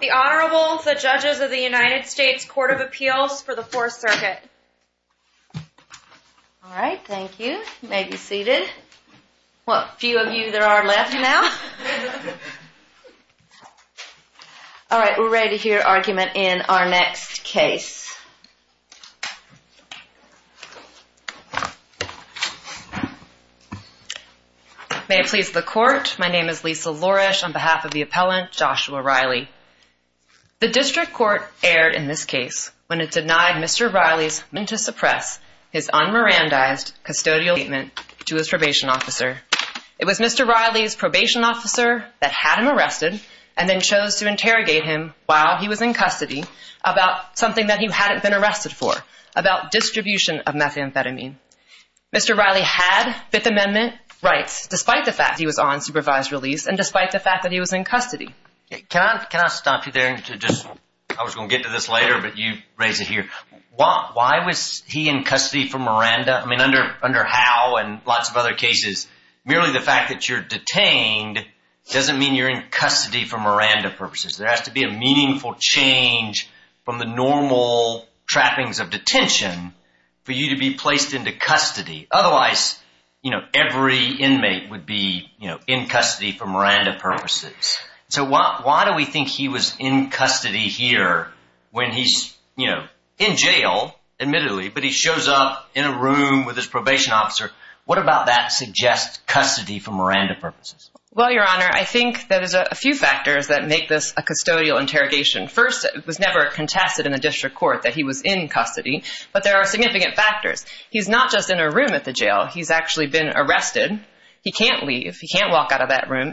The Honorable, the Judges of the United States Court of Appeals for the 4th Circuit. Alright, thank you. You may be seated. What, few of you there are left now? Alright, we're ready to hear argument in our next case. May it please the Court, my name is Lisa Loresh on behalf of the appellant Joshua Riley. The District Court erred in this case when it denied Mr. Riley's intent to suppress his unmerandized custodial statement to his probation officer. It was Mr. Riley's probation officer that had him arrested and then chose to interrogate him while he was in custody about something that he hadn't been arrested for, about distribution of methamphetamine. Mr. Riley had Fifth Amendment rights despite the fact he was on supervised release and despite the fact that he was in custody. Can I stop you there? I was going to get to this later, but you raised it here. Why was he in custody for Miranda? I mean, under how and lots of other cases, merely the fact that you're detained doesn't mean you're in custody for Miranda purposes. There has to be a meaningful change from the normal trappings of detention for you to be placed into custody. Otherwise, you know, every inmate would be, you know, in custody for Miranda purposes. So why do we think he was in custody here when he's, you know, in jail, admittedly, but he shows up in a room with his probation officer? What about that suggests custody for Miranda purposes? Well, Your Honor, I think there's a few factors that make this a custodial interrogation. First, it was never contested in the District Court that he was in custody, but there are significant factors. He's not just in a room at the jail. He's actually been arrested. He can't leave. He can't walk out of that room.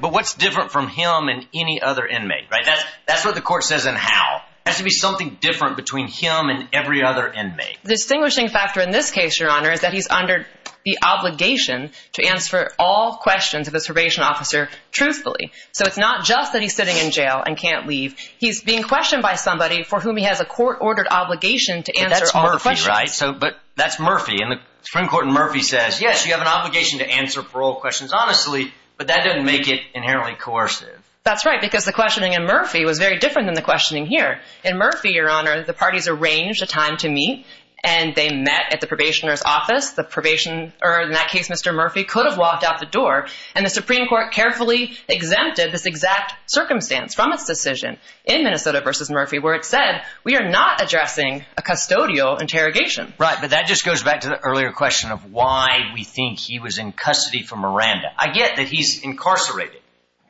But what's different from him and any other inmate, right? That's what the court says and how. There has to be something different between him and every other inmate. The distinguishing factor in this case, Your Honor, is that he's under the obligation to answer all questions of his probation officer truthfully. So it's not just that he's sitting in jail and can't leave. He's being questioned by somebody for whom he has a court-ordered obligation to answer all the questions. But that's Murphy, and the Supreme Court in Murphy says, yes, you have an obligation to answer parole questions honestly, but that doesn't make it inherently coercive. That's right, because the questioning in Murphy was very different than the questioning here. In Murphy, Your Honor, the parties arranged a time to meet, and they met at the probationer's office. The probationer, or in that case, Mr. Murphy, could have walked out the door, and the Supreme Court carefully exempted this exact circumstance from its decision in Minnesota v. Murphy, where it said, we are not addressing a custodial interrogation. Right, but that just goes back to the earlier question of why we think he was in custody for Miranda. I get that he's incarcerated,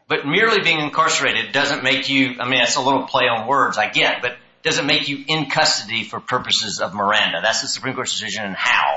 but merely being incarcerated doesn't make you—I mean, that's a little play on words, I get— but doesn't make you in custody for purposes of Miranda. That's the Supreme Court's decision and how.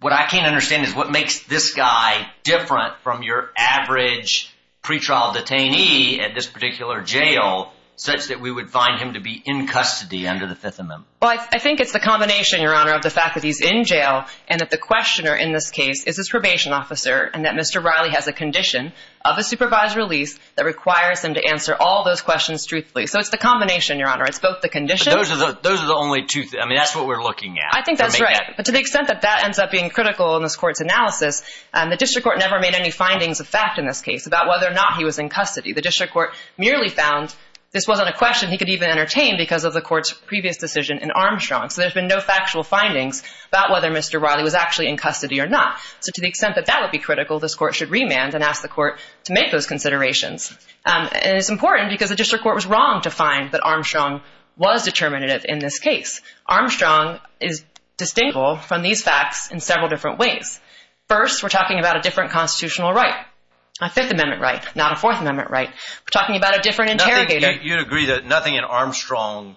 What I can't understand is what makes this guy different from your average pretrial detainee at this particular jail such that we would find him to be in custody under the Fifth Amendment. Well, I think it's the combination, Your Honor, of the fact that he's in jail and that the questioner in this case is his probation officer and that Mr. Riley has a condition of a supervised release that requires him to answer all those questions truthfully. So it's the combination, Your Honor. It's both the condition— But those are the only two—I mean, that's what we're looking at. I think that's right, but to the extent that that ends up being critical in this Court's analysis, the District Court never made any findings of fact in this case about whether or not he was in custody. The District Court merely found this wasn't a question he could even entertain because of the Court's previous decision in Armstrong. So there's been no factual findings about whether Mr. Riley was actually in custody or not. So to the extent that that would be critical, this Court should remand and ask the Court to make those considerations. And it's important because the District Court was wrong to find that Armstrong was determinative in this case. Armstrong is distinguishable from these facts in several different ways. First, we're talking about a different constitutional right, a Fifth Amendment right, not a Fourth Amendment right. We're talking about a different interrogator. You'd agree that nothing in Armstrong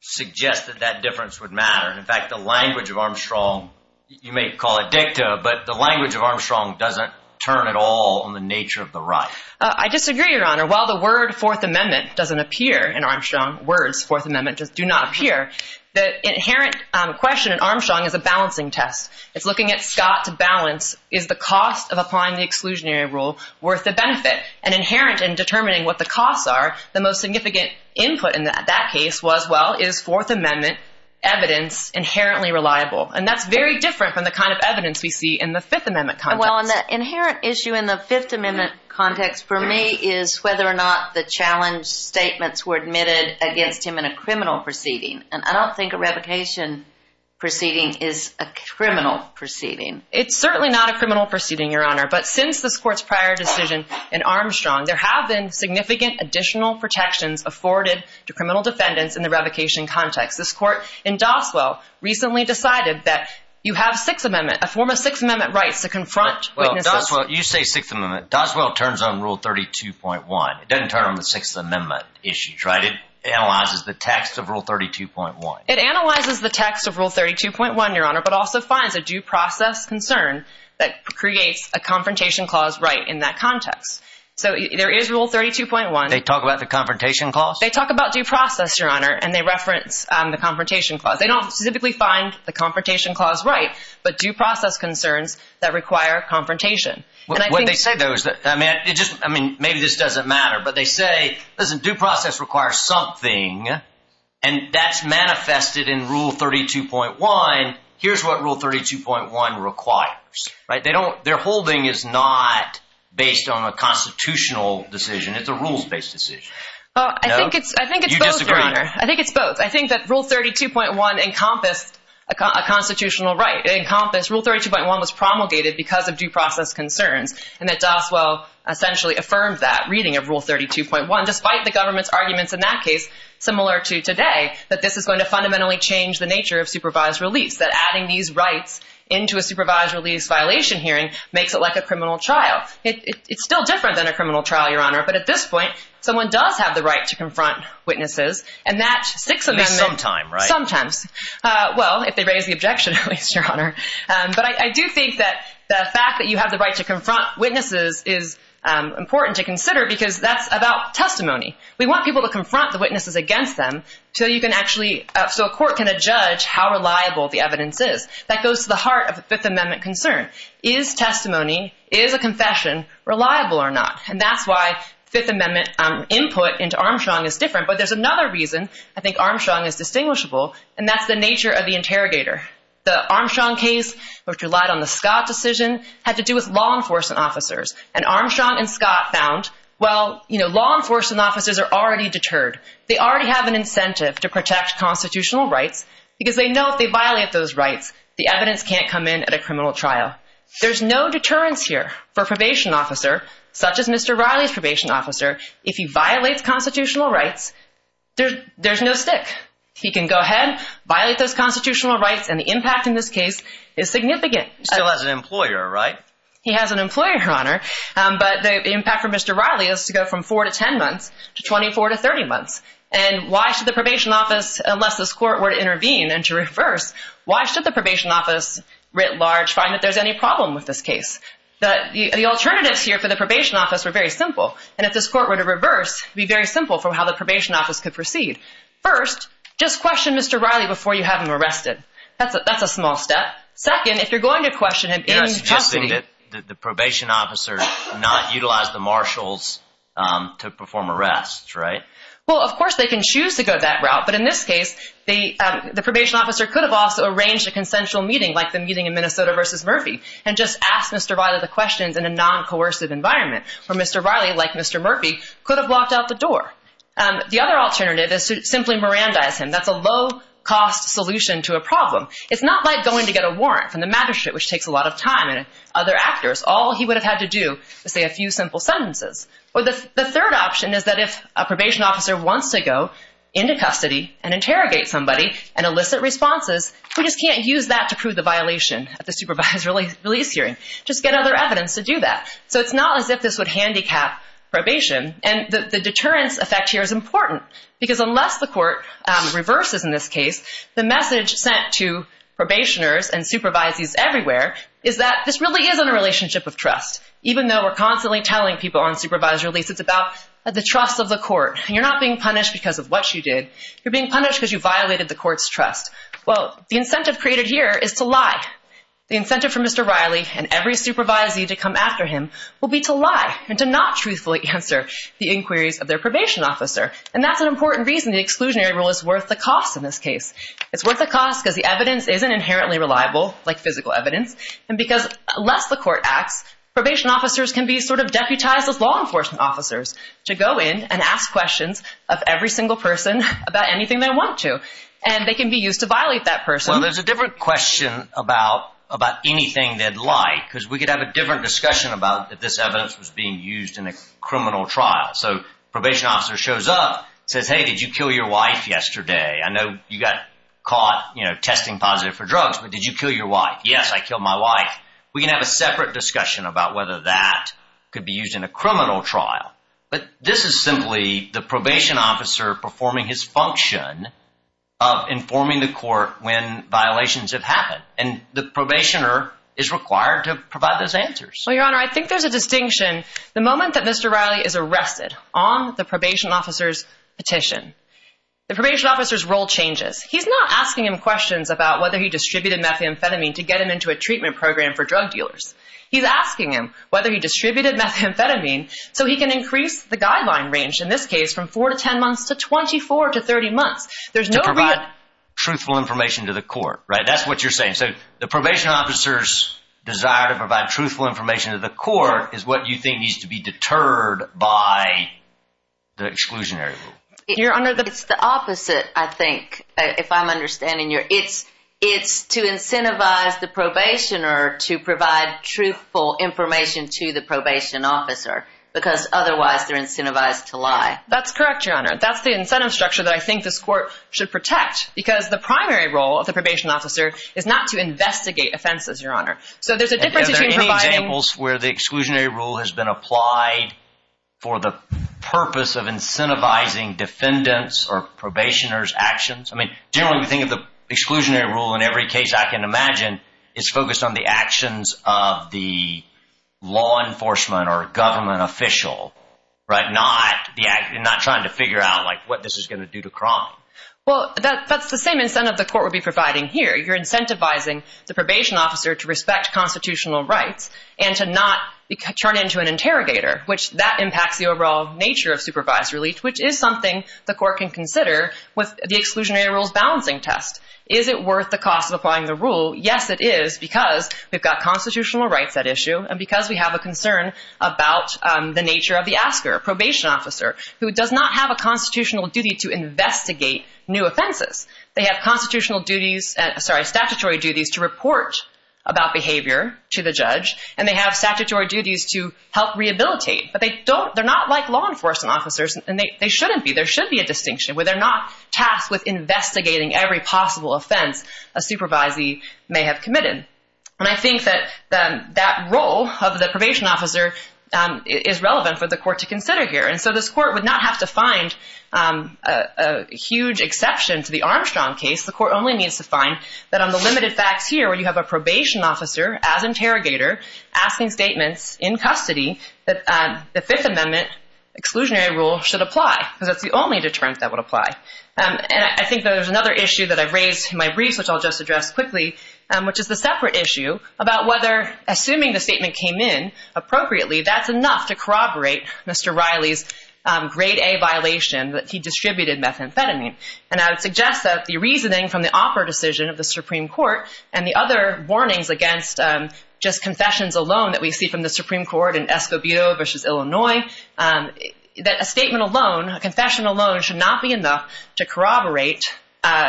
suggests that that difference would matter. In fact, the language of Armstrong—you may call it dicta, but the language of Armstrong doesn't turn at all on the nature of the right. I disagree, Your Honor. While the word Fourth Amendment doesn't appear in Armstrong, words Fourth Amendment do not appear, the inherent question in Armstrong is a balancing test. It's looking at Scott to balance, is the cost of applying the exclusionary rule worth the benefit? And inherent in determining what the costs are, the most significant input in that case was, well, is Fourth Amendment evidence inherently reliable? And that's very different from the kind of evidence we see in the Fifth Amendment context. Well, and the inherent issue in the Fifth Amendment context, for me, is whether or not the challenge statements were admitted against him in a criminal proceeding. And I don't think a revocation proceeding is a criminal proceeding. It's certainly not a criminal proceeding, Your Honor. But since this Court's prior decision in Armstrong, there have been significant additional protections afforded to criminal defendants in the revocation context. This Court in Doswell recently decided that you have Sixth Amendment, a form of Sixth Amendment rights to confront witnesses. Well, Doswell, you say Sixth Amendment. Doswell turns on Rule 32.1. It doesn't turn on the Sixth Amendment issues, right? It analyzes the text of Rule 32.1. It analyzes the text of Rule 32.1, Your Honor, but also finds a due process concern that creates a confrontation clause right in that context. So there is Rule 32.1. They talk about the confrontation clause? They talk about due process, Your Honor, and they reference the confrontation clause. They don't specifically find the confrontation clause right, but due process concerns that require confrontation. What they say, though, is that, I mean, maybe this doesn't matter, but they say, listen, due process requires something, and that's manifested in Rule 32.1. Here's what Rule 32.1 requires, right? Their holding is not based on a constitutional decision. It's a rules-based decision. I think it's both, Your Honor. I think it's both. I think that Rule 32.1 encompassed a constitutional right. It encompassed Rule 32.1 was promulgated because of due process concerns, and that Doswell essentially affirmed that reading of Rule 32.1, despite the government's arguments in that case, similar to today, that this is going to fundamentally change the nature of supervised release, that adding these rights into a supervised release violation hearing makes it like a criminal trial. It's still different than a criminal trial, Your Honor, but at this point someone does have the right to confront witnesses, and that Sixth Amendment- At least sometime, right? Sometimes. Well, if they raise the objection, at least, Your Honor. But I do think that the fact that you have the right to confront witnesses is important to consider because that's about testimony. We want people to confront the witnesses against them so you can actually- so a court can judge how reliable the evidence is. That goes to the heart of the Fifth Amendment concern. Is testimony, is a confession, reliable or not? And that's why Fifth Amendment input into Armstrong is different, but there's another reason I think Armstrong is distinguishable, and that's the nature of the interrogator. The Armstrong case, which relied on the Scott decision, had to do with law enforcement officers, and Armstrong and Scott found, well, you know, law enforcement officers are already deterred. They already have an incentive to protect constitutional rights because they know if they violate those rights, the evidence can't come in at a criminal trial. There's no deterrence here for a probation officer, such as Mr. Riley's probation officer. If he violates constitutional rights, there's no stick. He can go ahead, violate those constitutional rights, and the impact in this case is significant. He still has an employer, right? He has an employer on her, but the impact for Mr. Riley is to go from 4 to 10 months to 24 to 30 months. And why should the probation office, unless this court were to intervene and to reverse, why should the probation office writ large find that there's any problem with this case? The alternatives here for the probation office were very simple, and if this court were to reverse, it would be very simple for how the probation office could proceed. First, just question Mr. Riley before you have him arrested. That's a small step. Second, if you're going to question him in custody. You're suggesting that the probation officer not utilize the marshals to perform arrests, right? Well, of course they can choose to go that route, but in this case, the probation officer could have also arranged a consensual meeting like the meeting in Minnesota versus Murphy and just asked Mr. Riley the questions in a non-coercive environment where Mr. Riley, like Mr. Murphy, could have locked out the door. The other alternative is to simply Mirandize him. That's a low-cost solution to a problem. It's not like going to get a warrant from the magistrate, which takes a lot of time, and other actors. All he would have had to do was say a few simple sentences. Or the third option is that if a probation officer wants to go into custody and interrogate somebody and elicit responses, we just can't use that to prove the violation at the supervised release hearing. Just get other evidence to do that. So it's not as if this would handicap probation, and the deterrence effect here is important because unless the court reverses in this case, the message sent to probationers and supervisees everywhere is that this really isn't a relationship of trust. Even though we're constantly telling people on supervised release it's about the trust of the court. You're not being punished because of what you did. You're being punished because you violated the court's trust. Well, the incentive created here is to lie. The incentive for Mr. Riley and every supervisee to come after him will be to lie and to not truthfully answer the inquiries of their probation officer, and that's an important reason the exclusionary rule is worth the cost in this case. It's worth the cost because the evidence isn't inherently reliable, like physical evidence, and because unless the court acts, probation officers can be sort of deputized as law enforcement officers to go in and ask questions of every single person about anything they want to, and they can be used to violate that person. Well, there's a different question about anything they'd like because we could have a different discussion about if this evidence was being used in a criminal trial. So probation officer shows up, says, hey, did you kill your wife yesterday? I know you got caught testing positive for drugs, but did you kill your wife? Yes, I killed my wife. We can have a separate discussion about whether that could be used in a criminal trial, but this is simply the probation officer performing his function of informing the court when violations have happened, and the probationer is required to provide those answers. Well, Your Honor, I think there's a distinction. The moment that Mr. Riley is arrested on the probation officer's petition, the probation officer's role changes. He's not asking him questions about whether he distributed methamphetamine to get him into a treatment program for drug dealers. He's asking him whether he distributed methamphetamine so he can increase the guideline range, in this case, from 4 to 10 months to 24 to 30 months. To provide truthful information to the court, right? That's what you're saying. So the probation officer's desire to provide truthful information to the court is what you think needs to be deterred by the exclusionary rule. Your Honor, it's the opposite, I think, if I'm understanding you. It's to incentivize the probationer to provide truthful information to the probation officer because otherwise they're incentivized to lie. That's correct, Your Honor. That's the incentive structure that I think this court should protect because the primary role of the probation officer is not to investigate offenses, Your Honor. Are there any examples where the exclusionary rule has been applied for the purpose of incentivizing defendants' or probationers' actions? I mean, generally we think of the exclusionary rule in every case I can imagine is focused on the actions of the law enforcement or government official, right? Not trying to figure out, like, what this is going to do to crime. Well, that's the same incentive the court would be providing here. You're incentivizing the probation officer to respect constitutional rights and to not turn into an interrogator, which that impacts the overall nature of supervised relief, which is something the court can consider with the exclusionary rule's balancing test. Is it worth the cost of applying the rule? Yes, it is because we've got constitutional rights at issue and because we have a concern about the nature of the asker, a probation officer, who does not have a constitutional duty to investigate new offenses. They have constitutional duties, sorry, statutory duties to report about behavior to the judge, and they have statutory duties to help rehabilitate. But they're not like law enforcement officers, and they shouldn't be. There should be a distinction where they're not tasked with investigating every possible offense a supervisee may have committed. And I think that that role of the probation officer is relevant for the court to consider here. And so this court would not have to find a huge exception to the Armstrong case. The court only needs to find that on the limited facts here, where you have a probation officer as interrogator asking statements in custody, that the Fifth Amendment exclusionary rule should apply because that's the only deterrent that would apply. And I think there's another issue that I've raised in my briefs, which I'll just address quickly, which is the separate issue about whether assuming the statement came in appropriately, that's enough to corroborate Mr. Riley's grade A violation that he distributed methamphetamine. And I would suggest that the reasoning from the opera decision of the Supreme Court and the other warnings against just confessions alone that we see from the Supreme Court in Escobedo versus Illinois, that a statement alone, a confession alone, should not be enough to corroborate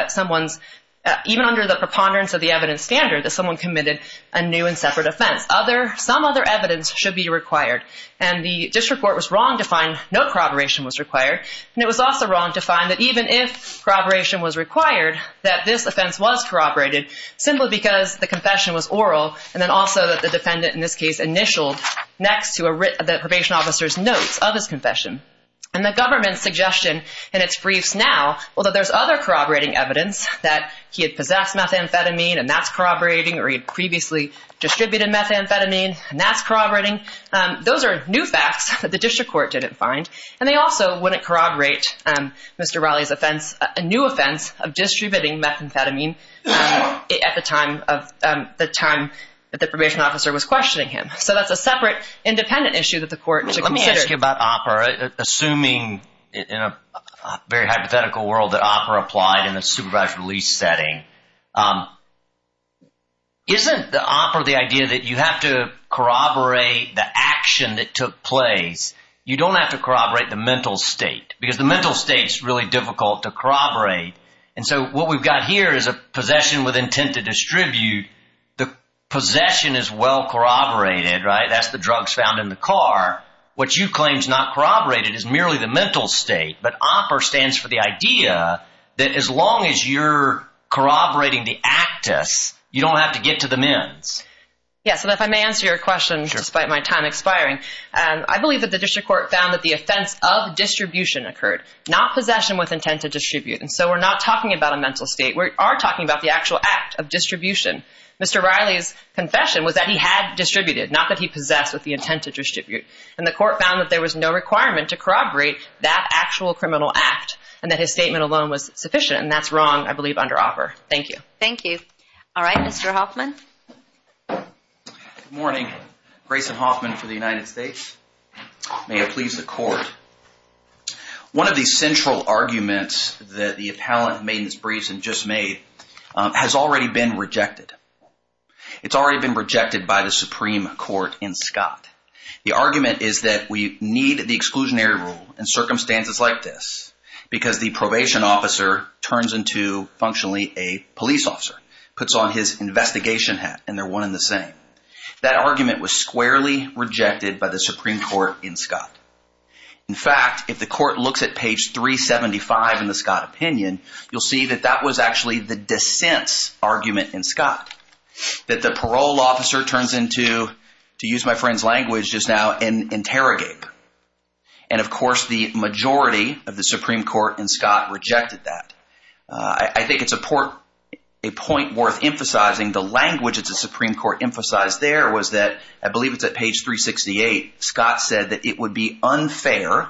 someone's, even under the preponderance of the evidence standard, that someone committed a new and separate offense. Some other evidence should be required. And the district court was wrong to find no corroboration was required. And it was also wrong to find that even if corroboration was required, that this offense was corroborated, simply because the confession was oral and then also that the defendant, in this case, initialed next to the probation officer's notes of his confession. And the government's suggestion in its briefs now, although there's other corroborating evidence, that he had possessed methamphetamine and that's corroborating, or he had previously distributed methamphetamine and that's corroborating, those are new facts that the district court didn't find. And they also wouldn't corroborate Mr. Raleigh's offense, a new offense, of distributing methamphetamine at the time that the probation officer was questioning him. So that's a separate, independent issue that the court should consider. Let me ask you about OPPRA. Assuming, in a very hypothetical world, that OPPRA applied in a supervised release setting, isn't the OPPRA the idea that you have to corroborate the action that took place? You don't have to corroborate the mental state, because the mental state is really difficult to corroborate. And so what we've got here is a possession with intent to distribute. The possession is well corroborated, right? That's the drugs found in the car. What you claim is not corroborated is merely the mental state. But OPPRA stands for the idea that as long as you're corroborating the actus, you don't have to get to the men's. Yes, and if I may answer your question, despite my time expiring. I believe that the district court found that the offense of distribution occurred, not possession with intent to distribute. And so we're not talking about a mental state. We are talking about the actual act of distribution. Mr. Riley's confession was that he had distributed, not that he possessed with the intent to distribute. And the court found that there was no requirement to corroborate that actual criminal act and that his statement alone was sufficient, and that's wrong, I believe, under OPPRA. Thank you. Thank you. All right, Mr. Hoffman. Good morning. Grayson Hoffman for the United States. May it please the court. One of the central arguments that the appellant made in his briefs and just made has already been rejected. It's already been rejected by the Supreme Court in Scott. The argument is that we need the exclusionary rule in circumstances like this because the probation officer turns into, functionally, a police officer, puts on his investigation hat, and they're one and the same. That argument was squarely rejected by the Supreme Court in Scott. In fact, if the court looks at page 375 in the Scott opinion, you'll see that that was actually the dissent's argument in Scott, that the parole officer turns into, to use my friend's language just now, an interrogator. And, of course, the majority of the Supreme Court in Scott rejected that. I think it's a point worth emphasizing. The language that the Supreme Court emphasized there was that, I believe it's at page 368, Scott said that it would be unfair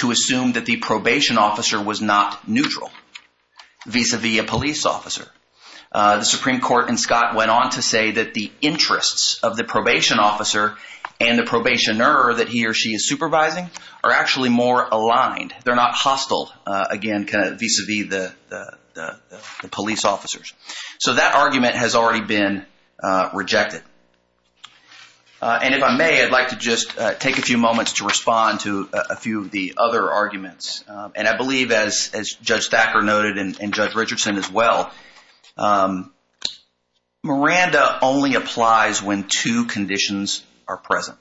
to assume that the probation officer was not neutral, vis-a-vis a police officer. The Supreme Court in Scott went on to say that the interests of the probation officer and the probationer that he or she is supervising are actually more aligned. They're not hostile, again, vis-a-vis the police officers. So that argument has already been rejected. And if I may, I'd like to just take a few moments to respond to a few of the other arguments. And I believe, as Judge Thacker noted and Judge Richardson as well, Miranda only applies when two conditions are present.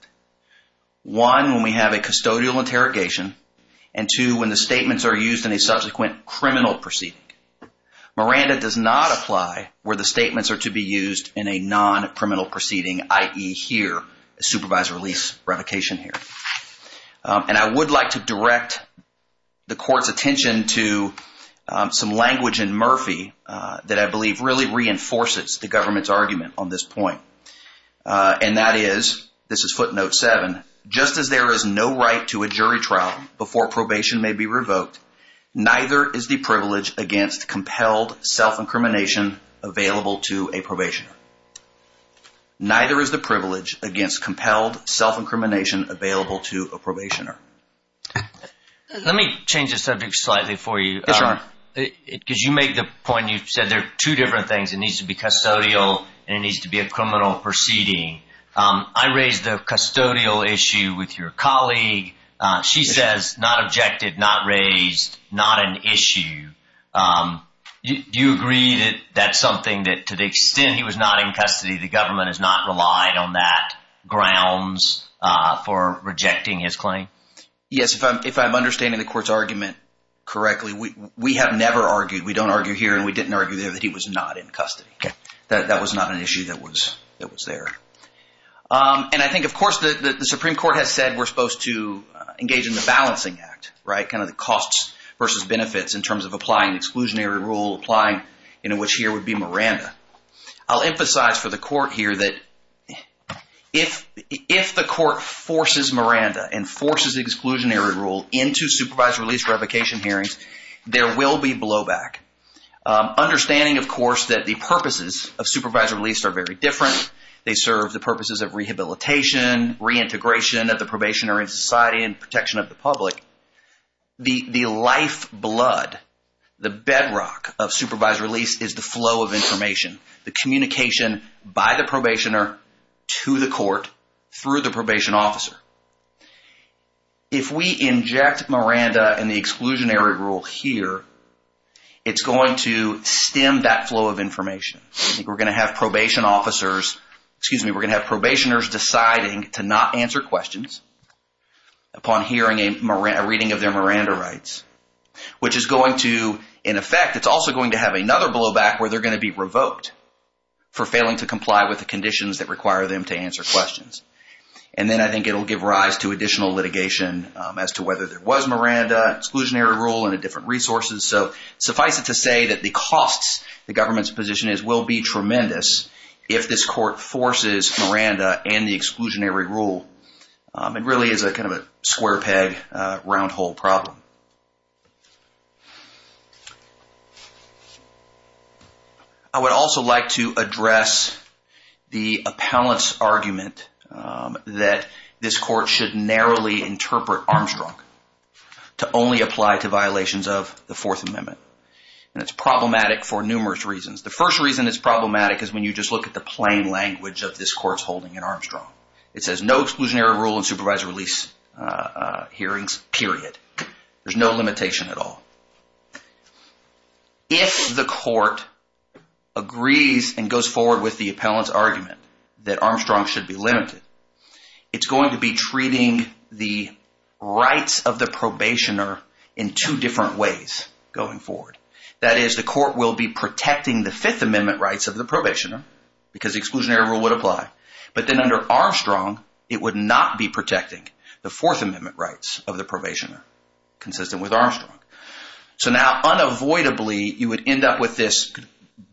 One, when we have a custodial interrogation, and two, when the statements are used in a subsequent criminal proceeding. Miranda does not apply where the statements are to be used in a non-criminal proceeding, i.e. here, a supervised release revocation here. And I would like to direct the Court's attention to some language in Murphy that I believe really reinforces the government's argument on this point. And that is, this is footnote seven, just as there is no right to a jury trial before probation may be revoked, neither is the privilege against compelled self-incrimination available to a probationer. Neither is the privilege against compelled self-incrimination available to a probationer. Let me change the subject slightly for you. Yes, Your Honor. Because you make the point, you said there are two different things. It needs to be custodial and it needs to be a criminal proceeding. I raised the custodial issue with your colleague. She says not objected, not raised, not an issue. Do you agree that that's something that, to the extent he was not in custody, the government has not relied on that grounds for rejecting his claim? Yes, if I'm understanding the Court's argument correctly, we have never argued, we don't argue here and we didn't argue there, that he was not in custody. That was not an issue that was there. And I think, of course, the Supreme Court has said we're supposed to engage in the balancing act, kind of the costs versus benefits in terms of applying exclusionary rule, applying in which here would be Miranda. I'll emphasize for the Court here that if the Court forces Miranda and forces exclusionary rule into supervised release revocation hearings, there will be blowback. Understanding, of course, that the purposes of supervised release are very different. They serve the purposes of rehabilitation, reintegration of the probationary society and protection of the public. The lifeblood, the bedrock of supervised release is the flow of information, the communication by the probationer to the Court through the probation officer. If we inject Miranda in the exclusionary rule here, it's going to stem that flow of information. I think we're going to have probation officers, excuse me, we're going to have probationers deciding to not answer questions upon hearing a reading of their Miranda rights, which is going to, in effect, it's also going to have another blowback where they're going to be revoked for failing to comply with the conditions that require them to answer questions. And then I think it will give rise to additional litigation as to whether there was Miranda, exclusionary rule and the different resources. So suffice it to say that the costs, the government's position is, will be tremendous if this Court forces Miranda and the exclusionary rule. It really is a kind of a square peg, round hole problem. I would also like to address the appellant's argument that this Court should narrowly interpret Armstrong to only apply to violations of the Fourth Amendment. And it's problematic for numerous reasons. The first reason it's problematic is when you just look at the plain language of this Court's holding in Armstrong. It says no exclusionary rule in supervisory release hearings, period. There's no limitation at all. If the Court agrees and goes forward with the appellant's argument that Armstrong should be limited, it's going to be treating the rights of the probationer in two different ways going forward. That is, the Court will be protecting the Fifth Amendment rights of the probationer because the exclusionary rule would apply. But then under Armstrong, it would not be protecting the Fourth Amendment rights of the probationer, consistent with Armstrong. So now, unavoidably, you would end up with this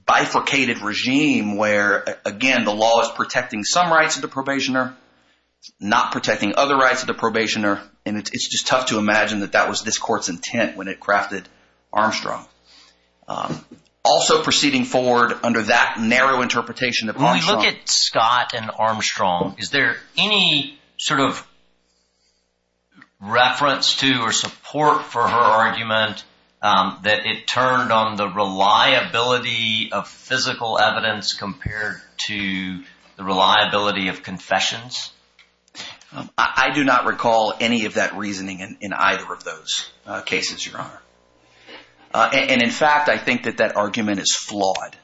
bifurcated regime where, again, the law is protecting some rights of the probationer, not protecting other rights of the probationer, and it's just tough to imagine that that was this Court's intent when it crafted Armstrong. Also proceeding forward under that narrow interpretation of Armstrong… Is there any sort of reference to or support for her argument that it turned on the reliability of physical evidence compared to the reliability of confessions? I do not recall any of that reasoning in either of those cases, Your Honor. And in fact, I think that that argument is flawed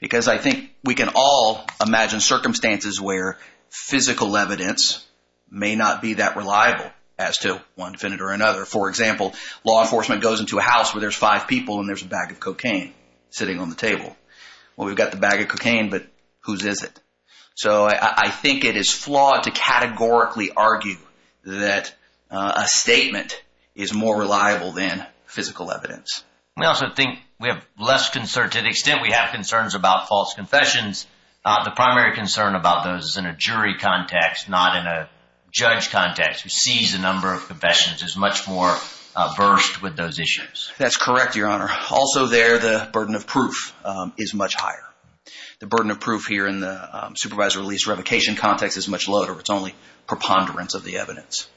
because I think we can all imagine circumstances where physical evidence may not be that reliable as to one defendant or another. For example, law enforcement goes into a house where there's five people and there's a bag of cocaine sitting on the table. Well, we've got the bag of cocaine, but whose is it? So I think it is flawed to categorically argue that a statement is more reliable than physical evidence. We also think we have less concern… To the extent we have concerns about false confessions, the primary concern about those is in a jury context, not in a judge context. Who sees a number of confessions is much more versed with those issues. That's correct, Your Honor. Also there, the burden of proof is much higher. The burden of proof here in the supervisor release revocation context is much lower. It's only preponderance of the evidence.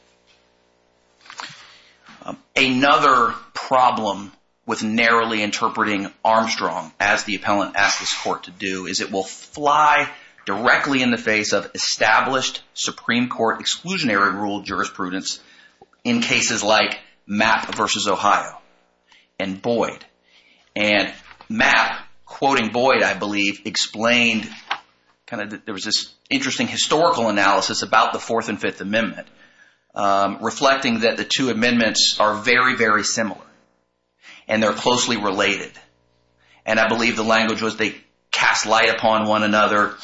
Another problem with narrowly interpreting Armstrong as the appellant asked this court to do is it will fly directly in the face of established Supreme Court exclusionary rule jurisprudence in cases like Mapp v. Ohio and Boyd. And Mapp, quoting Boyd, I believe, explained… There was this interesting historical analysis about the Fourth and Fifth Amendment reflecting that the two amendments are very, very similar and they're closely related. And I believe the language was they cast light upon one another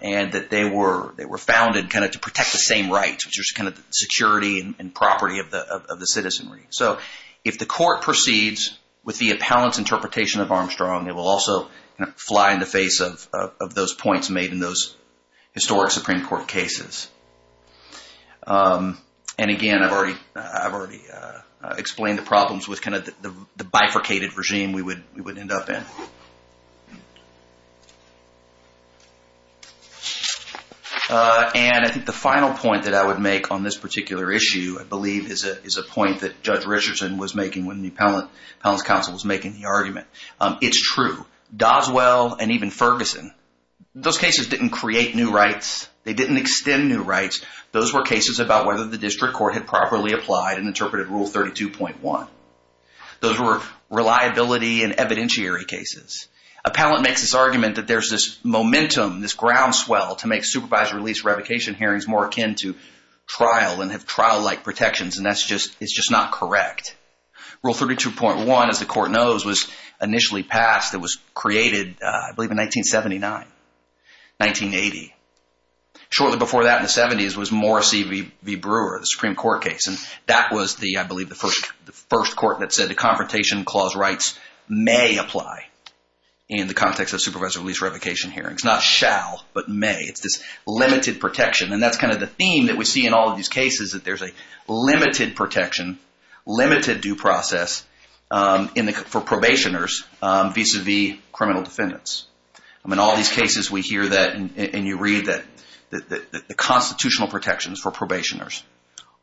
and that they were founded kind of to protect the same rights, which was kind of security and property of the citizenry. So if the court proceeds with the appellant's interpretation of Armstrong, it will also fly in the face of those points made in those historic Supreme Court cases. And again, I've already explained the problems with kind of the bifurcated regime we would end up in. And I think the final point that I would make on this particular issue, I believe, is a point that Judge Richardson was making when the appellant's counsel was making the argument. It's true. Doswell and even Ferguson, those cases didn't create new rights. They didn't extend new rights. Those were cases about whether the district court had properly applied and interpreted Rule 32.1. Those were reliability and evidentiary cases. Appellant makes this argument that there's this momentum, this groundswell to make supervised release revocation hearings more akin to trial and have trial-like protections, and that's just… it's just not correct. Rule 32.1, as the court knows, was initially passed. It was created, I believe, in 1979, 1980. Shortly before that, in the 70s, was Morrissey v. Brewer, the Supreme Court case, and that was the, I believe, the first court that said the Confrontation Clause rights may apply in the context of supervised release revocation hearings. Not shall, but may. It's this limited protection. And that's kind of the theme that we see in all of these cases, is that there's a limited protection, limited due process for probationers vis-à-vis criminal defendants. In all these cases, we hear that, and you read that the constitutional protections for probationers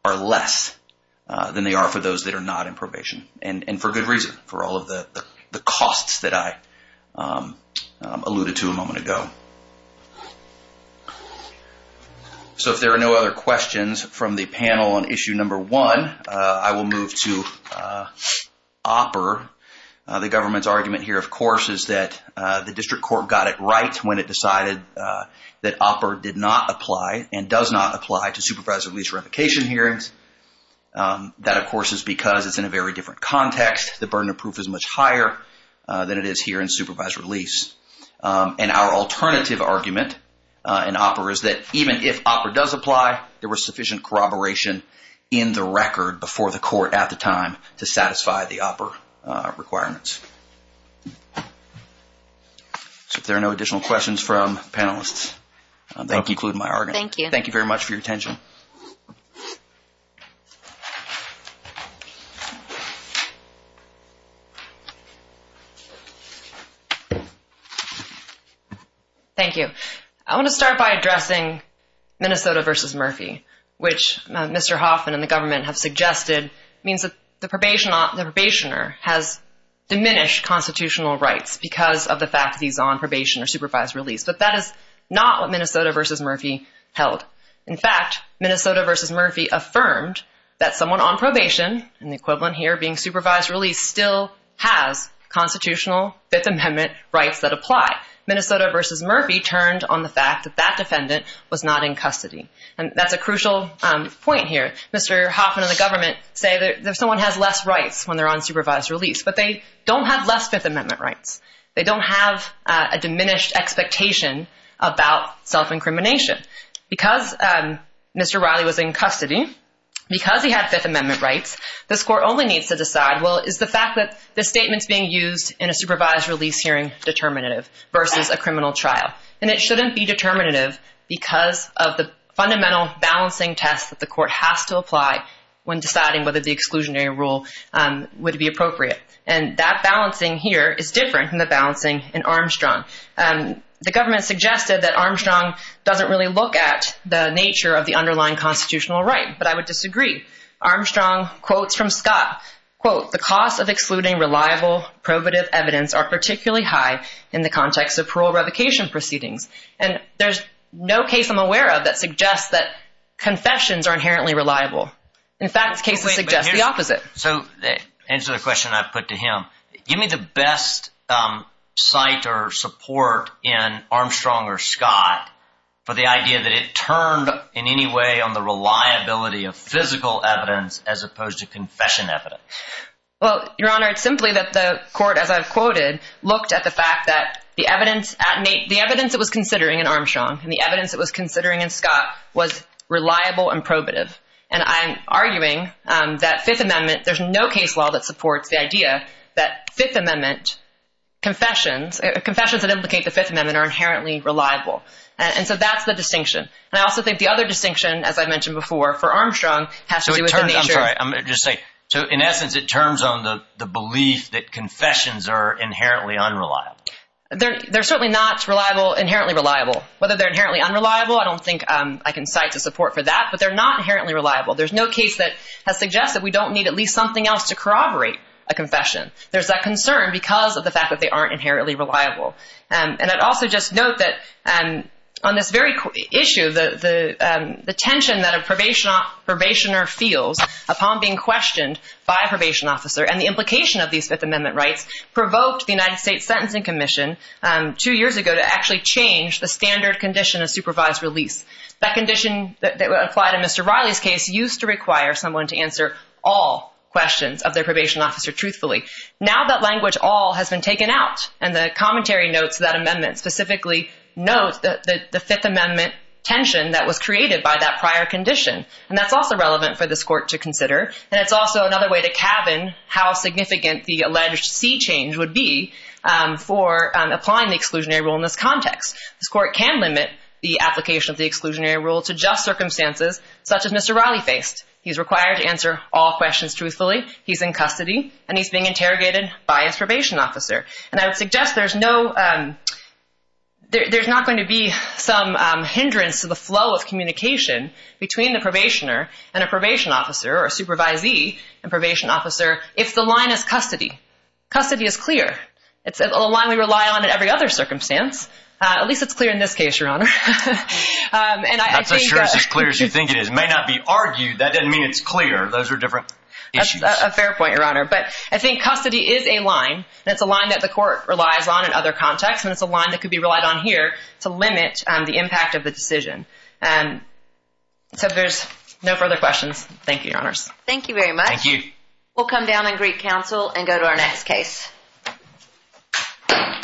are less than they are for those that are not in probation, and for good reason, for all of the costs that I alluded to a moment ago. So if there are no other questions from the panel on Issue No. 1, I will move to OPPER. The government's argument here, of course, is that the district court got it right when it decided that OPPER did not apply and does not apply to supervised release revocation hearings. That, of course, is because it's in a very different context. The burden of proof is much higher than it is here in supervised release. And our alternative argument in OPPER is that even if OPPER does apply, there was sufficient corroboration in the record before the court at the time to satisfy the OPPER requirements. So if there are no additional questions from panelists, I'll conclude my argument. Thank you very much for your attention. Thank you. I want to start by addressing Minnesota v. Murphy, which Mr. Hoffman and the government have suggested means that the probationer has diminished constitutional rights because of the fact that he's on probation or supervised release. But that is not what Minnesota v. Murphy held. In fact, Minnesota v. Murphy affirmed that someone on probation, in the equivalent here being supervised release, still has constitutional Fifth Amendment rights that apply. Minnesota v. Murphy turned on the fact that that defendant was not in custody. And that's a crucial point here. Mr. Hoffman and the government say that someone has less rights when they're on supervised release, but they don't have less Fifth Amendment rights. They don't have a diminished expectation about self-incrimination. Because Mr. Riley was in custody, because he had Fifth Amendment rights, this court only needs to decide, well, is the fact that this statement's being used in a supervised release hearing determinative versus a criminal trial? And it shouldn't be determinative because of the fundamental balancing test that the court has to apply when deciding whether the exclusionary rule would be appropriate. And that balancing here is different than the balancing in Armstrong. The government suggested that Armstrong doesn't really look at the nature of the underlying constitutional right, but I would disagree. Armstrong quotes from Scott, quote, the cost of excluding reliable probative evidence are particularly high in the context of parole revocation proceedings. And there's no case I'm aware of that suggests that confessions are inherently reliable. In fact, cases suggest the opposite. So to answer the question I put to him, give me the best site or support in Armstrong or Scott for the idea that it turned in any way on the reliability of physical evidence as opposed to confession evidence. Well, Your Honor, it's simply that the court, as I've quoted, looked at the fact that the evidence it was considering in Armstrong and the evidence it was considering in Scott was reliable and probative. And I'm arguing that Fifth Amendment, there's no case law that supports the idea that Fifth Amendment confessions, confessions that implicate the Fifth Amendment are inherently reliable. And so that's the distinction. And I also think the other distinction, as I mentioned before, for Armstrong, has to do with the nature. I'm sorry. I'm going to just say, so in essence, it turns on the belief that confessions are inherently unreliable. They're certainly not reliable, inherently reliable. Whether they're inherently unreliable, I don't think I can cite to support for that, but they're not inherently reliable. There's no case that has suggested we don't need at least something else to corroborate a confession. There's that concern because of the fact that they aren't inherently reliable. And I'd also just note that on this very issue, the tension that a probationer feels upon being questioned by a probation officer and the implication of these Fifth Amendment rights provoked the United States Sentencing Commission two years ago to actually change the standard condition of supervised release. That condition applied in Mr. Riley's case used to require someone to answer all questions of their probation officer truthfully. Now that language all has been taken out and the commentary notes of that amendment specifically note the Fifth Amendment tension that was created by that prior condition. And that's also relevant for this court to consider. And it's also another way to cabin how significant the alleged sea change would be for applying the exclusionary rule in this context. This court can limit the application of the exclusionary rule to just circumstances such as Mr. Riley faced. He's required to answer all questions truthfully. He's in custody, and he's being interrogated by his probation officer. And I would suggest there's not going to be some hindrance to the flow of communication between the probationer and a probation officer or a supervisee and probation officer if the line is custody. Custody is clear. It's a line we rely on in every other circumstance. At least it's clear in this case, Your Honor. Not so sure it's as clear as you think it is. It may not be argued. That doesn't mean it's clear. Those are different issues. That's a fair point, Your Honor. But I think custody is a line, and it's a line that the court relies on in other contexts, and it's a line that could be relied on here to limit the impact of the decision. So there's no further questions. Thank you, Your Honors. Thank you very much. Thank you. We'll come down and greet counsel and go to our next case.